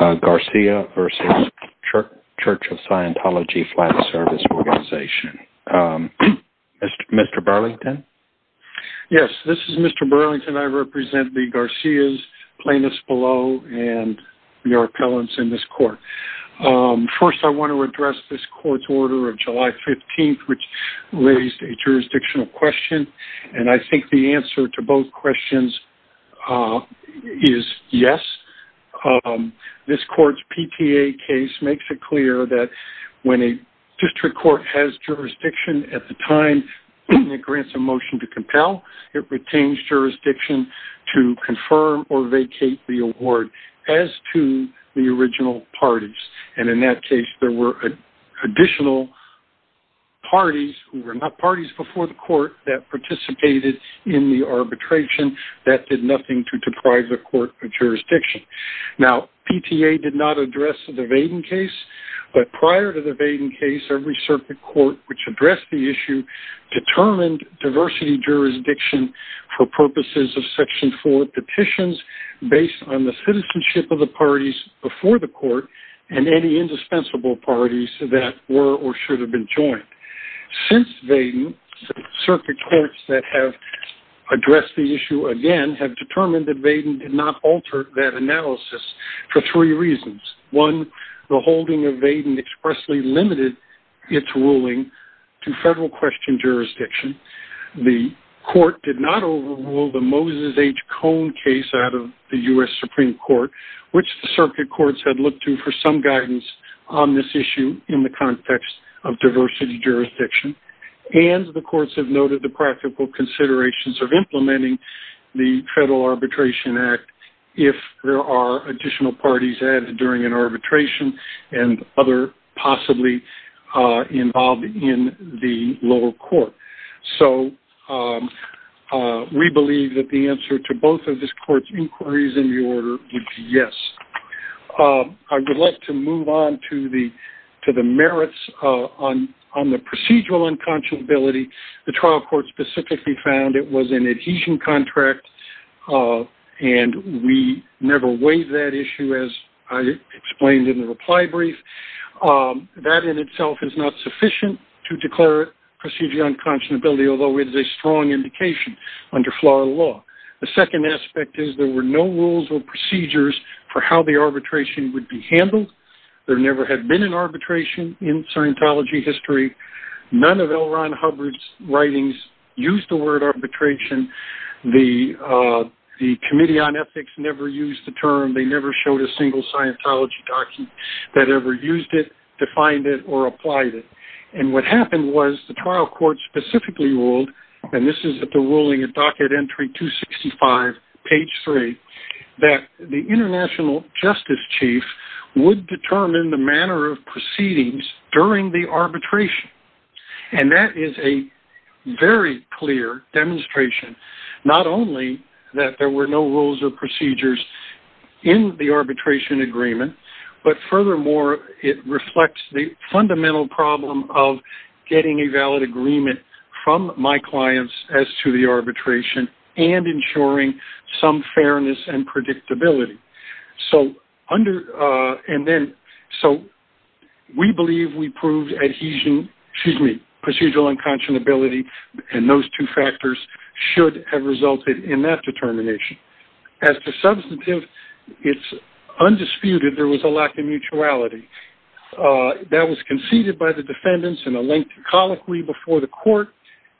Garcia versus Church of Scientology Flat Service Organization Mr. Burlington Yes, this is mr. Burlington. I represent the Garcia's plaintiffs below and your appellants in this court First I want to address this court's order of July 15th, which raised a jurisdictional question And I think the answer to both questions Is yes This court's PTA case makes it clear that when a district court has jurisdiction at the time It grants a motion to compel it retains Jurisdiction to confirm or vacate the award as to the original parties and in that case there were additional Parties were not parties before the court that participated in the arbitration That did nothing to deprive the court of jurisdiction now PTA did not address the Vaden case But prior to the Vaden case every circuit court which addressed the issue determined diversity jurisdiction for purposes of section 4 petitions Based on the citizenship of the parties before the court and any indispensable parties that were or should have been joined since they circuit courts that have Addressed the issue again have determined that Vaden did not alter that analysis for three reasons one The holding of Vaden expressly limited its ruling to federal question jurisdiction The court did not overrule the Moses H Cone case out of the US Supreme Court which the circuit courts had looked to for some guidance on this issue in the context of diversity jurisdiction And the courts have noted the practical considerations of implementing the Federal Arbitration Act if there are additional parties added during an arbitration and other possibly involved in the lower court, so We believe that the answer to both of this court's inquiries in the order would be yes I would like to move on to the to the merits on on the procedural Unconscionability the trial court specifically found it was an adhesion contract And we never weighed that issue as I explained in the reply brief That in itself is not sufficient to declare procedure unconscionability Although it is a strong indication under Florida law The second aspect is there were no rules or procedures for how the arbitration would be handled There never had been an arbitration in Scientology history none of L Ron Hubbard's writings used the word arbitration the The Committee on Ethics never used the term they never showed a single Scientology document That ever used it defined it or applied it and what happened was the trial court Specifically ruled and this is at the ruling of docket entry 265 page 3 that the International Justice Chief would determine the manner of proceedings during the arbitration and that is a very clear Demonstration not only that there were no rules or procedures in the arbitration agreement But furthermore it reflects the fundamental problem of Getting a valid agreement from my clients as to the arbitration and ensuring some fairness and predictability so under and then so We believe we proved adhesion. Excuse me procedural unconscionability And those two factors should have resulted in that determination as to substantive. It's Undisputed there was a lack of mutuality That was conceded by the defendants in a lengthy colloquy before the court.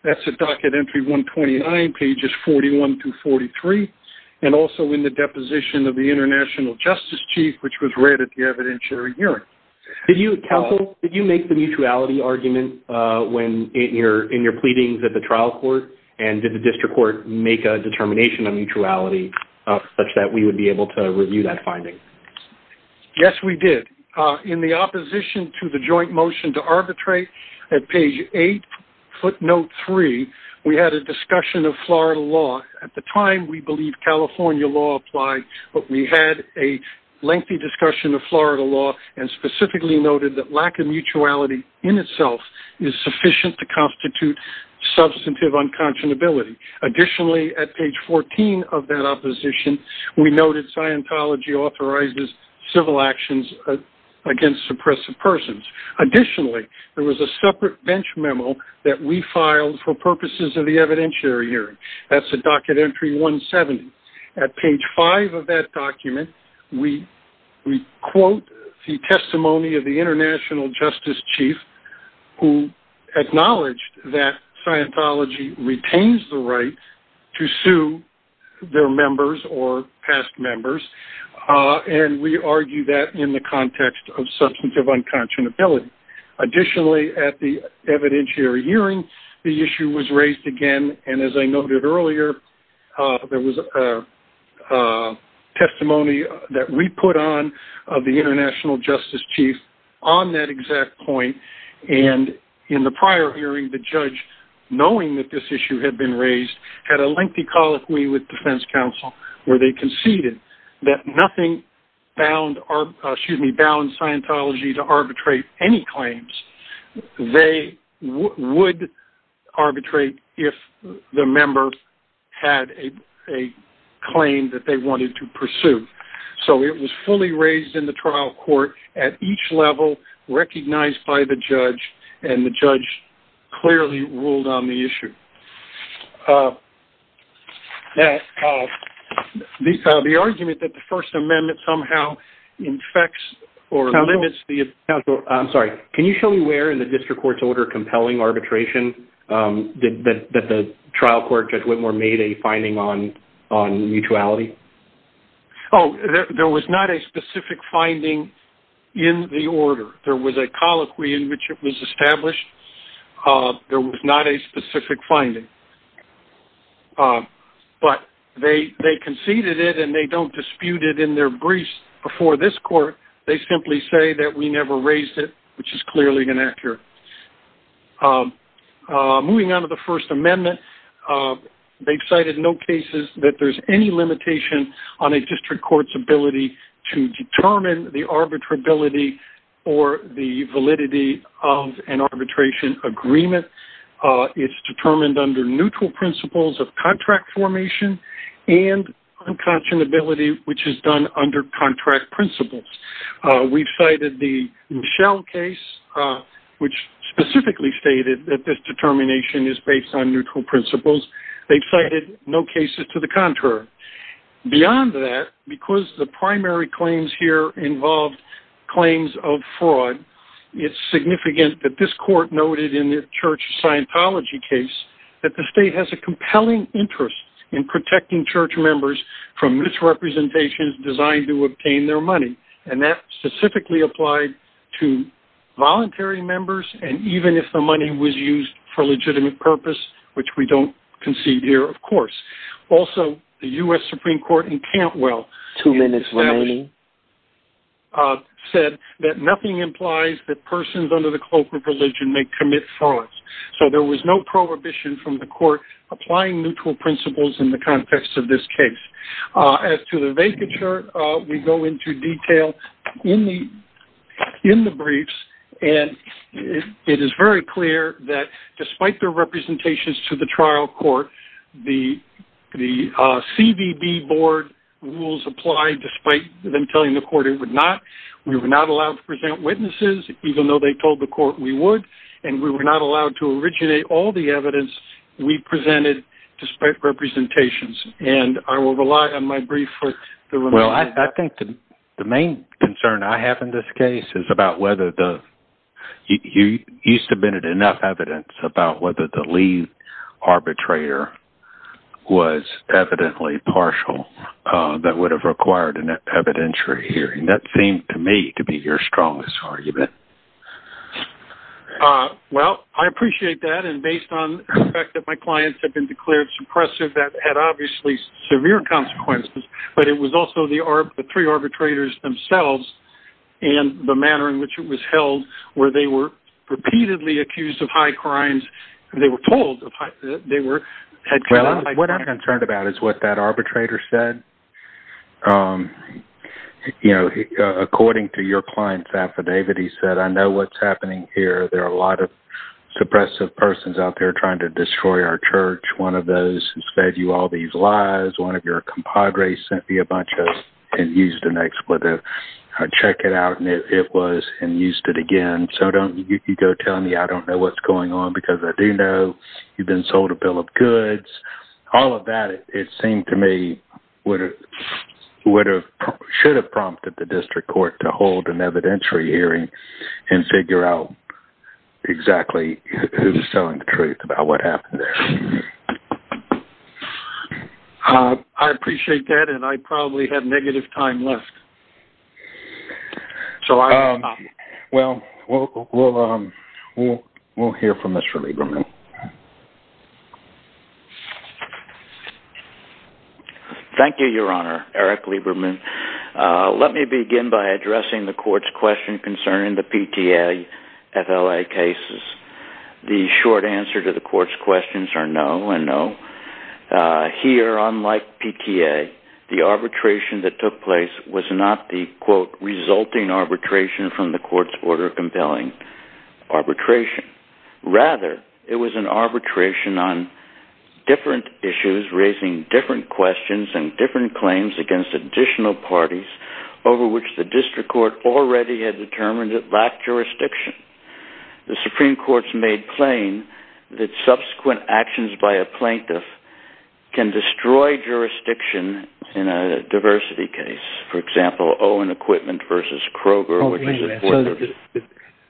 That's a docket entry 129 pages 41 to 43 and also in the deposition of the International Justice Chief, which was read at the evidentiary hearing Did you counsel did you make the mutuality argument when in your in your pleadings at the trial court? And did the district court make a determination on mutuality such that we would be able to review that finding Yes, we did in the opposition to the joint motion to arbitrate at page 8 footnote 3 We had a discussion of Florida law at the time. We believe California law applied, but we had a lengthy discussion of Florida law and Specifically noted that lack of mutuality in itself is sufficient to constitute substantive unconscionability Additionally at page 14 of that opposition we noted Scientology authorizes civil actions against oppressive persons Additionally, there was a separate bench memo that we filed for purposes of the evidentiary hearing. That's a docket entry 170 at page 5 of that document. We quote the testimony of the International Justice Chief who Acknowledged that Scientology retains the right to sue their members or past members And we argue that in the context of substantive unconscionability Additionally at the evidentiary hearing the issue was raised again. And as I noted earlier there was a Testimony that we put on of the International Justice Chief on that exact point and In the prior hearing the judge knowing that this issue had been raised had a lengthy colloquy with defense counsel Where they conceded that nothing bound Scientology to arbitrate any claims they would arbitrate if the member had a Claim that they wanted to pursue. So it was fully raised in the trial court at each level Recognized by the judge and the judge clearly ruled on the issue That These are the argument that the First Amendment somehow Infects or limits the counsel. I'm sorry. Can you show me where in the district court's order compelling arbitration? That the trial court Judge Whitmore made a finding on on mutuality. Oh There was not a specific finding in the order There was a colloquy in which it was established There was not a specific finding But they they conceded it and they don't dispute it in their briefs before this court They simply say that we never raised it, which is clearly inaccurate Moving on to the First Amendment they've cited no cases that there's any limitation on a district courts ability to determine the arbitrability or the validity of an arbitration agreement it's determined under neutral principles of contract formation and Unconscionability, which is done under contract principles. We've cited the Michelle case Which specifically stated that this determination is based on neutral principles. They've cited no cases to the contrary Beyond that because the primary claims here involved claims of fraud It's significant that this court noted in the church Scientology case that the state has a compelling interest in protecting church members from misrepresentations designed to obtain their money and that specifically applied to Voluntary members and even if the money was used for legitimate purpose, which we don't concede here Of course also the US Supreme Court in Cantwell two minutes remaining Said that nothing implies that persons under the cloak of religion may commit frauds So there was no prohibition from the court applying neutral principles in the context of this case as to the vacature we go into detail in the in the briefs and it is very clear that despite their representations to the trial court the The CBB board rules apply despite them telling the court it would not we were not allowed to present witnesses Even though they told the court we would and we were not allowed to originate all the evidence. We presented despite Representations and I will rely on my brief for the well I think the main concern I have in this case is about whether the You used to been at enough evidence about whether the leave arbitrator was Evidently partial that would have required an evidentiary hearing that seemed to me to be your strongest argument Well, I appreciate that and based on the fact that my clients have been declared suppressive that had obviously severe consequences but it was also the are the three arbitrators themselves and The manner in which it was held where they were What I'm concerned about is what that arbitrator said You know according to your clients affidavit he said I know what's happening here there are a lot of Suppressive persons out there trying to destroy our church One of those who saved you all these lives one of your compadres sent me a bunch of and used an expletive I check it out and it was and used it again. So don't you go tell me I don't know what's going on because I do know you've been sold a bill of goods All of that it seemed to me would have Would have should have prompted the district court to hold an evidentiary hearing and figure out Exactly who's telling the truth about what happened there? I appreciate that and I probably have negative time left So I well Well, we'll hear from mr. Lieberman Thank you, your honor Eric Lieberman Let me begin by addressing the court's question concerning the PTA FLA cases the short answer to the court's questions are no and no Here unlike PTA the arbitration that took place was not the quote resulting arbitration from the court's order compelling Arbitration rather it was an arbitration on Different issues raising different questions and different claims against additional parties Over which the district court already had determined that black jurisdiction The Supreme Court's made plain that subsequent actions by a plaintiff Can destroy jurisdiction in a diversity case, for example, Owen equipment versus Kroger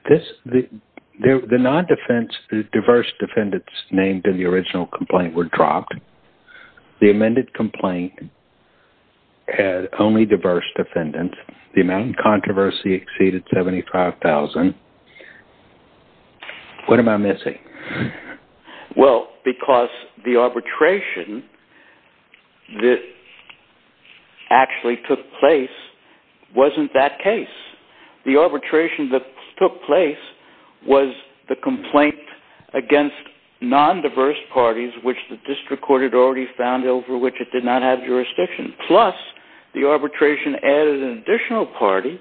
This the non defense the diverse defendants named in the original complaint were dropped the amended complaint Had only diverse defendants the amount controversy exceeded 75,000 What am I missing well, because the arbitration that Actually took place Wasn't that case the arbitration that took place was the complaint against Non-diverse parties which the district court had already found over which it did not have jurisdiction plus the arbitration added an additional party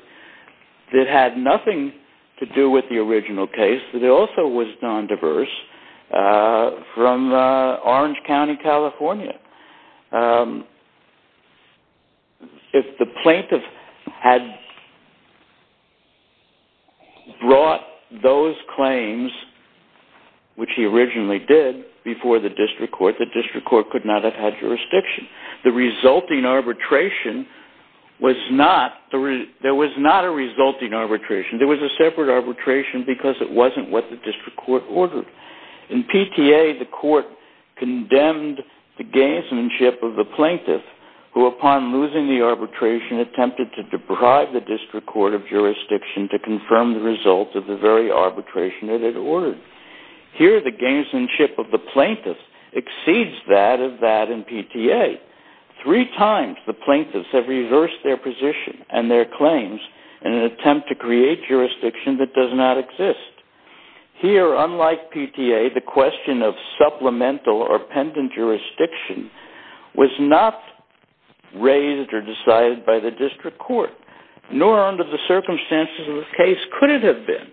That had nothing to do with the original case. It also was non-diverse from Orange County, California If the plaintiff had Brought those claims Which he originally did before the district court the district court could not have had jurisdiction the resulting arbitration Was not the there was not a resulting arbitration There was a separate arbitration because it wasn't what the district court ordered in PTA the court Condemned the gamesmanship of the plaintiff who upon losing the arbitration attempted to deprive the district court of Jurisdiction to confirm the result of the very arbitration that it ordered here the gamesmanship of the plaintiff exceeds that of that in PTA Three times the plaintiffs have reversed their position and their claims in an attempt to create jurisdiction that does not exist Here unlike PTA the question of supplemental or pendant jurisdiction was not Raised or decided by the district court nor under the circumstances of the case could it have been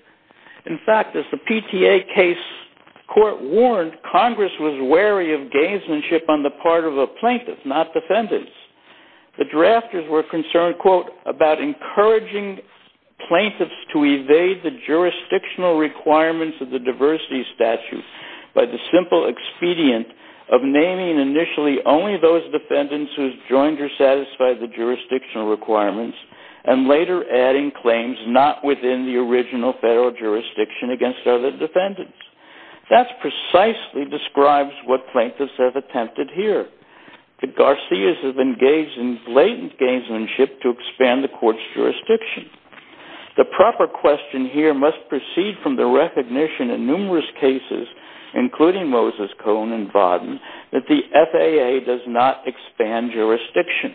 in fact as the PTA case Court warned Congress was wary of gamesmanship on the part of a plaintiff not defendants The drafters were concerned quote about encouraging Plaintiffs to evade the jurisdictional requirements of the diversity statute by the simple expedient of naming initially only those defendants who's joined or satisfied the jurisdictional requirements and Later adding claims not within the original federal jurisdiction against other defendants That's precisely describes what plaintiffs have attempted here The Garcia's have engaged in blatant gamesmanship to expand the court's jurisdiction The proper question here must proceed from the recognition in numerous cases Including Moses Cohn and Vaughn that the FAA does not expand jurisdiction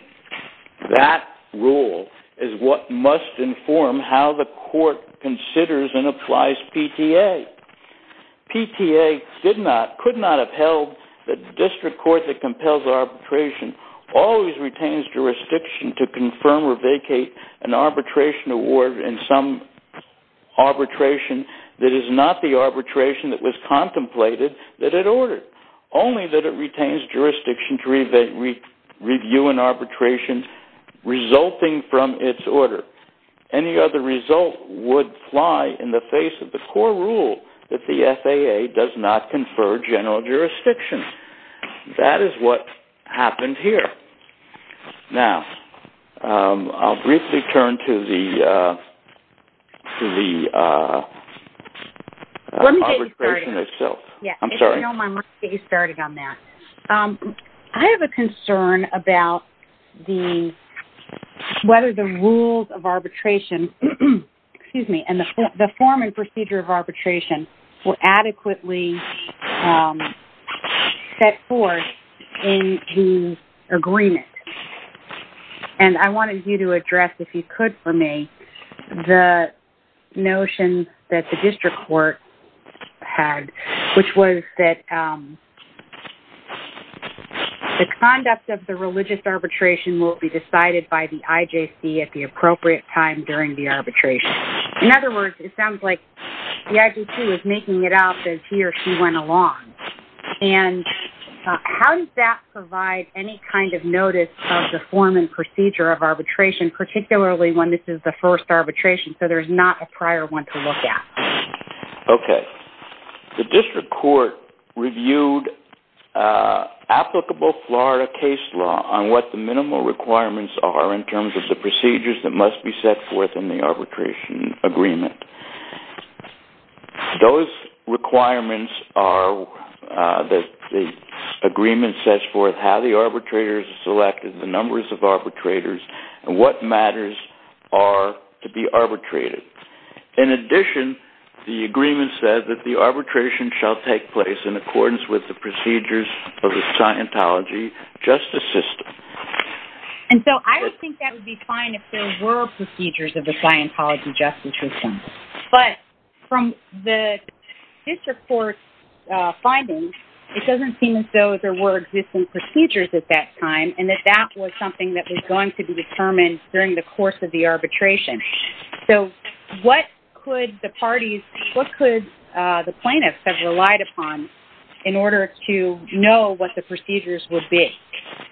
That rule is what must inform how the court considers and applies PTA PTA did not could not have held the district court that compels arbitration Always retains jurisdiction to confirm or vacate an arbitration award in some Arbitration that is not the arbitration that was contemplated that it ordered only that it retains jurisdiction to read that we review an arbitration Resulting from its order any other result would fly in the face of the core rule that the FAA Does not confer general jurisdiction That is what happened here now, I'll briefly turn to the To the Itself yeah, I'm sorry Starting on that. I have a concern about the whether the rules of arbitration Excuse me, and the form and procedure of arbitration were adequately Set forth in the agreement and I wanted you to address if you could for me the Notion that the district court had which was that The conduct of the religious arbitration will be decided by the IJC at the appropriate time during the arbitration in other words, it sounds like the IJC was making it out says he or she went along and How does that provide any kind of notice of the form and procedure of arbitration particularly when this is the first arbitration? So there's not a prior one to look at Okay the district court reviewed Applicable Florida case law on what the minimal requirements are in terms of the procedures that must be set forth in the arbitration agreement Those requirements are that the Agreement sets forth how the arbitrators selected the numbers of arbitrators and what matters are to be arbitrated in addition the agreement said that the arbitration shall take place in accordance with the procedures of the Scientology justice system and so I think that would be fine if there were procedures of the Scientology justice system, but from the District court findings, it doesn't seem as though there were existing procedures at that time and that that was something that was going to be determined during the course of the arbitration So what could the parties what could the plaintiffs have relied upon in? order to know what the procedures would be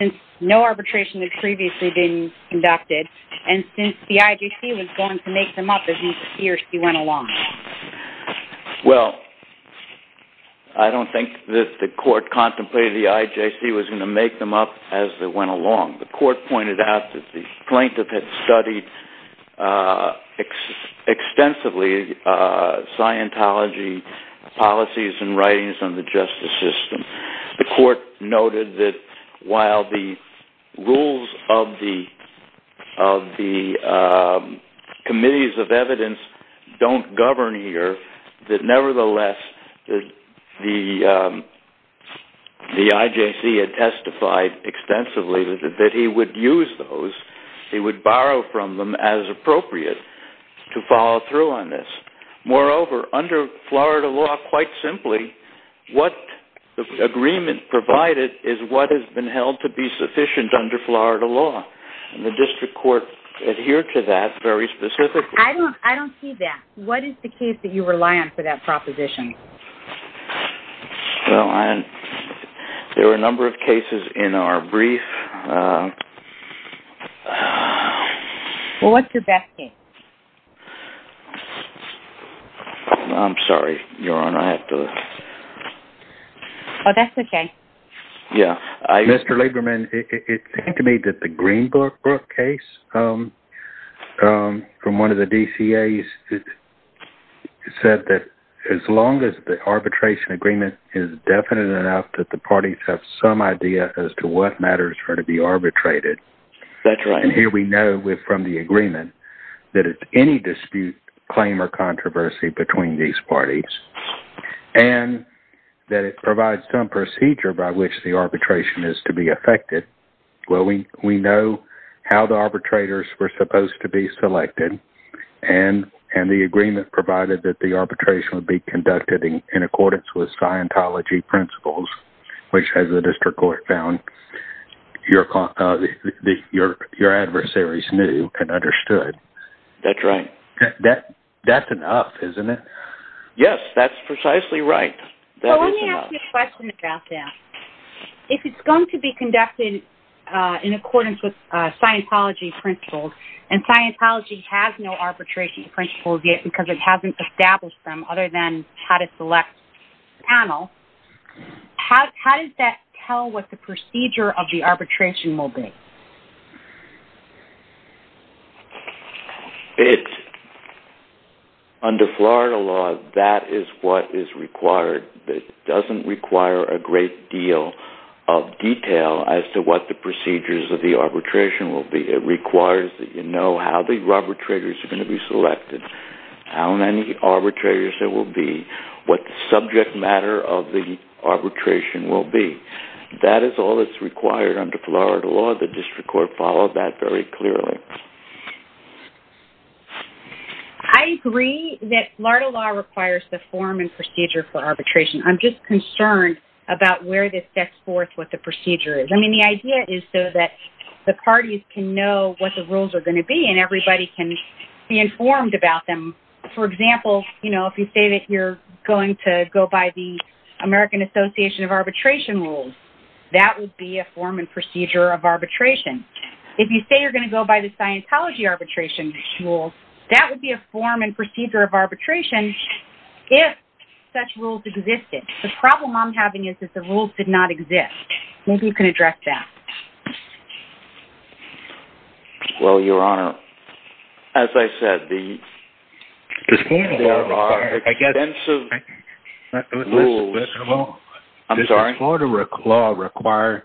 and no arbitration had previously been Conducted and since the IJC was going to make them up as he or she went along Well, I Don't think that the court contemplated the IJC was going to make them up as they went along the court pointed out that the plaintiff had studied Extensively Scientology policies and writings on the justice system the court noted that while the rules of the the Committees of evidence don't govern here that nevertheless that the The IJC had testified Extensively that he would use those he would borrow from them as appropriate To follow through on this moreover under Florida law quite simply What the agreement provided is what has been held to be sufficient under Florida law and the district court? Adhere to that very specific. I don't I don't see that. What is the case that you rely on for that proposition? Well, and there were a number of cases in our brief Well, what's your best game I'm sorry, you're on I have to Well, that's okay Yeah, I mr. Lieberman. It seemed to me that the Greenberg case From one of the DCA's Said that as long as the arbitration agreement is Definite enough that the parties have some idea as to what matters for to be arbitrated That's right. And here we know with from the agreement that it's any dispute claim or controversy between these parties and That it provides some procedure by which the arbitration is to be affected Well, we we know how the arbitrators were supposed to be selected and And the agreement provided that the arbitration would be conducted in accordance with Scientology principles Which has the district court found? your Your your adversaries knew and understood. That's right that that's enough, isn't it? Yes That's precisely right Let me ask you a question about that If it's going to be conducted in accordance with Scientology principles and Scientology has no arbitration principles yet because it hasn't established them other than how to select panel How does that tell what the procedure of the arbitration will be? It's Florida law that is what is required that doesn't require a great deal of Detail as to what the procedures of the arbitration will be it requires that you know how the rubber triggers are going to be selected how many arbitrators there will be what the subject matter of the Arbitration will be that is all that's required under Florida law the district court followed that very clearly. I Agree that Florida law requires the form and procedure for arbitration I'm just concerned about where this sets forth what the procedure is I mean the idea is so that the parties can know what the rules are going to be and everybody can Be informed about them. For example, you know if you say that you're going to go by the American Association of arbitration rules that would be a form and procedure of arbitration If you say you're going to go by the Scientology arbitration rule, that would be a form and procedure of arbitration If such rules existed the problem I'm having is that the rules did not exist. Maybe you can address that Well, your honor as I said the I'm sorry, Florida Rick law require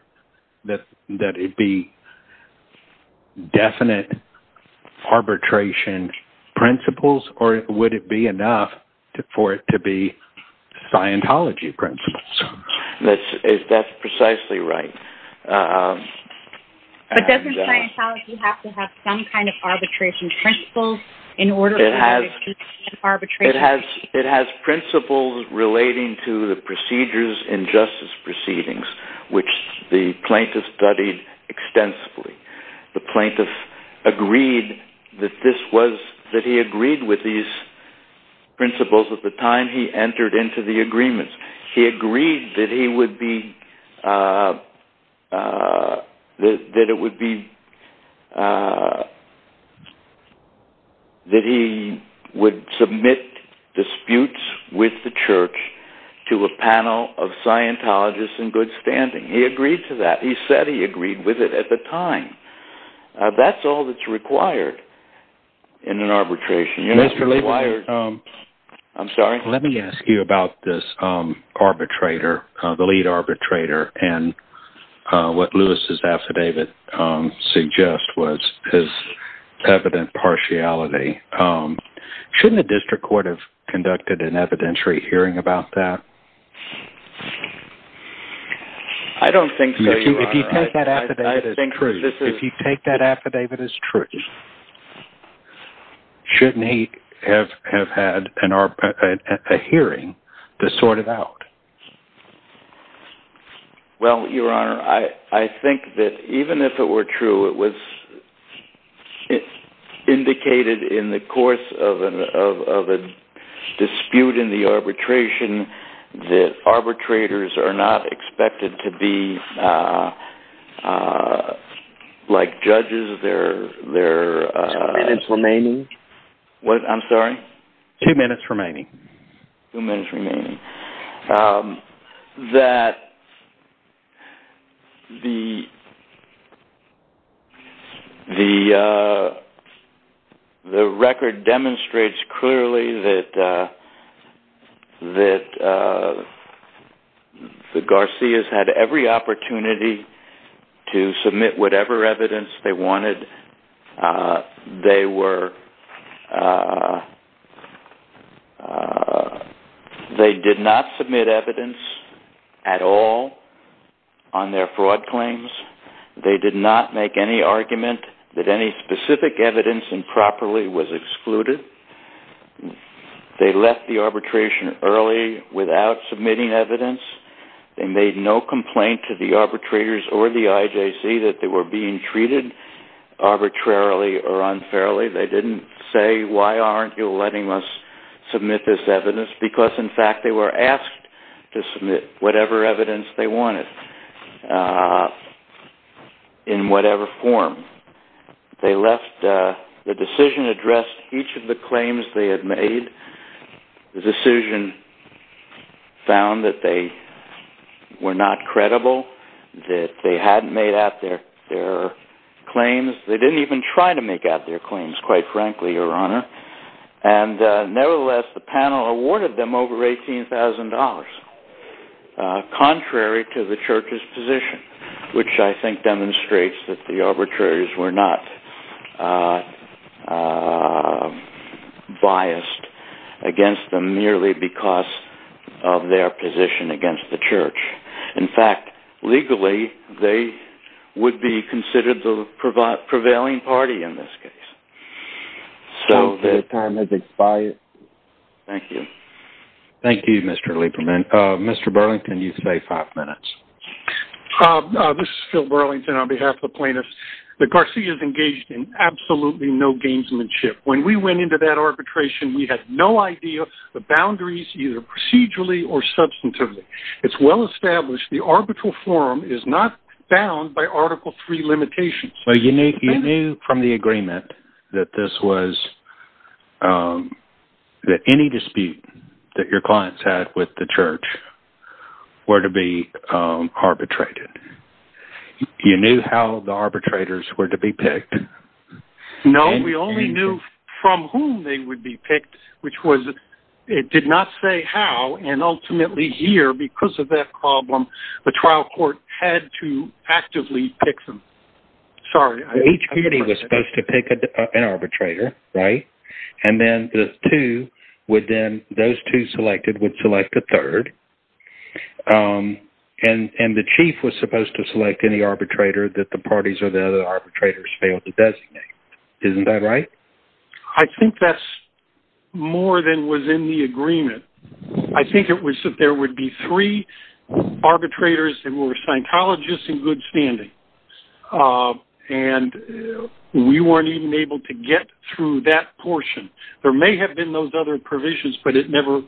that that it be Definite Arbitration principles or would it be enough to for it to be? Scientology principles, that's is that's precisely, right? It has it has principles relating to the procedures and justice proceedings which the plaintiff studied Extensively the plaintiff agreed that this was that he agreed with these Principles at the time he entered into the agreements. He agreed that he would be That it would be That he would submit disputes with the church to a panel of Scientologists in good standing he agreed to that. He said he agreed with it at the time That's all that's required in an arbitration. You know, it's really wired I'm sorry. Let me ask you about this arbitrator the lead arbitrator and What Lewis's affidavit? suggest was his evident partiality Shouldn't the district court have conducted an evidentiary hearing about that I Don't think If you take that affidavit is true Shouldn't he have have had an ARPA a hearing to sort it out Well, your honor I I think that even if it were true it was it indicated in the course of a Dispute in the arbitration that arbitrators are not expected to be Like judges, they're there and it's remaining what I'm sorry two minutes remaining two minutes remaining That The The Record demonstrates clearly that That The Garcia's had every opportunity to submit whatever evidence they wanted they were They did not submit evidence at all on Did not make any argument that any specific evidence and properly was excluded They left the arbitration early without submitting evidence They made no complaint to the arbitrators or the IJC that they were being treated Arbitrarily or unfairly they didn't say why aren't you letting us? Submit this evidence because in fact they were asked to submit whatever evidence they wanted In whatever form They left the decision addressed each of the claims they had made the decision found that they Were not credible that they hadn't made out there their claims they didn't even try to make out their claims quite frankly your honor and Nevertheless the panel awarded them over $18,000 Contrary to the church's position, which I think demonstrates that the arbitrators were not Biased against them merely because of their position against the church in fact Legally, they would be considered the provide prevailing party in this case So the time is expired Thank you Thank You mr. Lieberman mr. Burlington you say five minutes This is Phil Burlington on behalf of plaintiffs the Garcia's engaged in absolutely no gamesmanship when we went into that arbitration We had no idea the boundaries either procedurally or substantively It's well established the arbitral forum is not bound by article three limitations So you make you knew from the agreement that this was? That any dispute that your clients had with the church were to be arbitrated You knew how the arbitrators were to be picked No, we only knew from whom they would be picked Which was it did not say how and ultimately here because of that problem the trial court had to actively pick them Sorry, each beauty was supposed to pick up an arbitrator, right? And then the two would then those two selected would select a third And and the chief was supposed to select any arbitrator that the parties or the other arbitrators failed to designate Isn't that right? I think that's More than was in the agreement. I think it was that there would be three Arbitrators that were psychologists in good standing and We weren't even able to get through that portion. There may have been those other provisions, but it never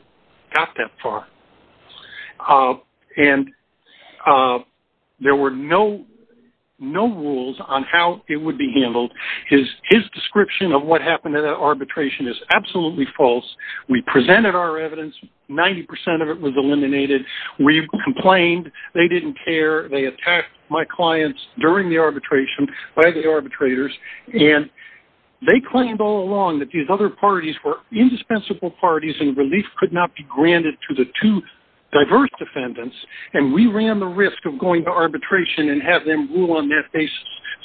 got that far and There were no No rules on how it would be handled his his description of what happened in that arbitration is absolutely false We presented our evidence 90% of it was eliminated. We complained they didn't care My clients during the arbitration by the arbitrators and They claimed all along that these other parties were indispensable parties and relief could not be granted to the two Diverse defendants and we ran the risk of going to arbitration and have them rule on that basis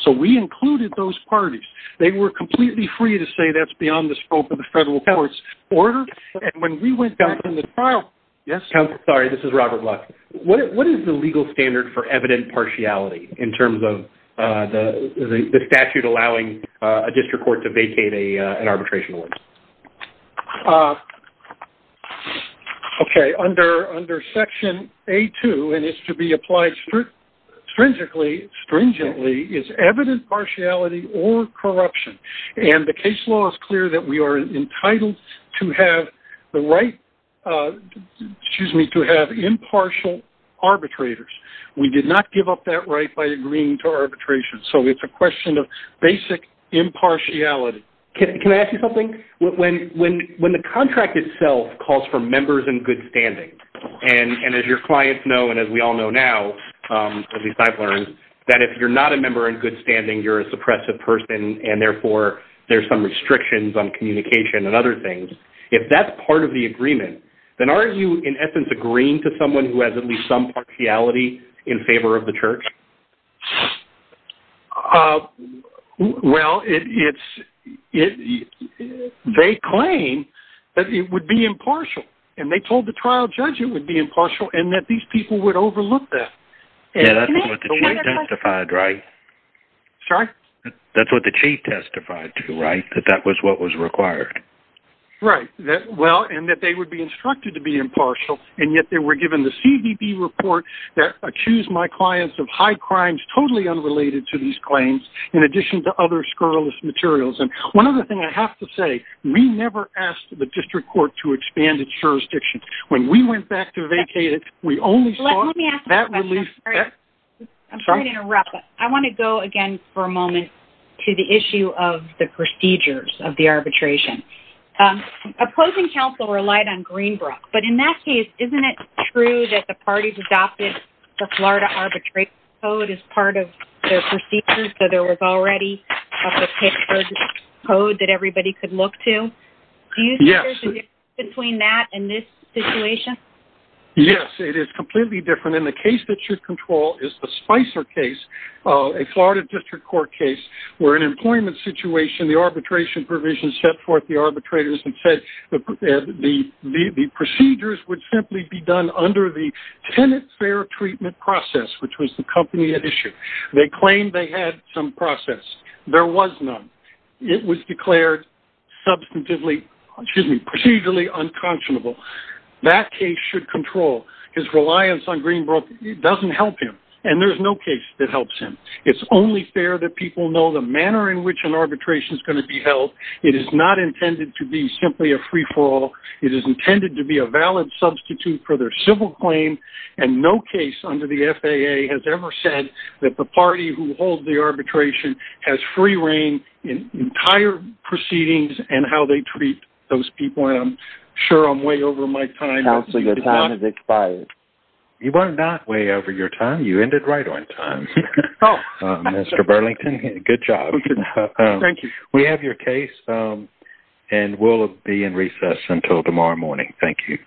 So we included those parties They were completely free to say that's beyond the scope of the federal powers order and when we went down from the trial Yes, I'm sorry. This is Robert luck. What is the legal standard for evident partiality in terms of the statute allowing a district court to vacate a an arbitration Okay under under section a two and is to be applied Stringently stringently is evident partiality or corruption and the case law is clear that we are Entitled to have the right To choose me to have impartial Arbitrators, we did not give up that right by agreeing to arbitration. So it's a question of basic Impartiality, can I ask you something when when when the contract itself calls for members in good standing and and as your clients know And as we all know now As we've learned that if you're not a member in good standing you're a suppressive person and therefore there's some restrictions on Communication and other things if that's part of the agreement Then are you in essence agreeing to someone who has at least some partiality in favor of the church? Well, it's it They claim that it would be impartial and they told the trial judge It would be impartial and that these people would overlook this Testified right Sorry, that's what the chief testified to right that that was what was required Right that well and that they would be instructed to be impartial and yet they were given the CBB report That accused my clients of high crimes totally unrelated to these claims in addition to other scurrilous materials and one other thing I have to say we never asked the district court to expand its Jurisdiction when we went back to vacate it. We only let me ask that release I'm sorry to interrupt. I want to go again for a moment to the issue of the procedures of the arbitration Opposing counsel relied on Greenbrook But in that case, isn't it true that the parties adopted the Florida arbitrate code as part of their procedures? So there was already a picture Code that everybody could look to you. Yes between that and this situation Yes, it is completely different in the case that should control is the Spicer case a Florida District Court case where an employment situation the arbitration provisions set forth the arbitrators and said the Procedures would simply be done under the tenant fair treatment process, which was the company at issue They claimed they had some process there was none. It was declared Substantively, excuse me procedurally unconscionable that case should control his reliance on Greenbrook It doesn't help him and there's no case that helps him It's only fair that people know the manner in which an arbitration is going to be held It is not intended to be simply a free-for-all It is intended to be a valid substitute for their civil claim and no case under the FAA has ever said That the party who holds the arbitration has free reign in entire Proceedings and how they treat those people and I'm sure I'm way over my time now. So your time is expired You were not way over your time. You ended right on time. Oh Mr. Burlington, good job Thank you. We have your case and we'll be in recess until tomorrow morning. Thank you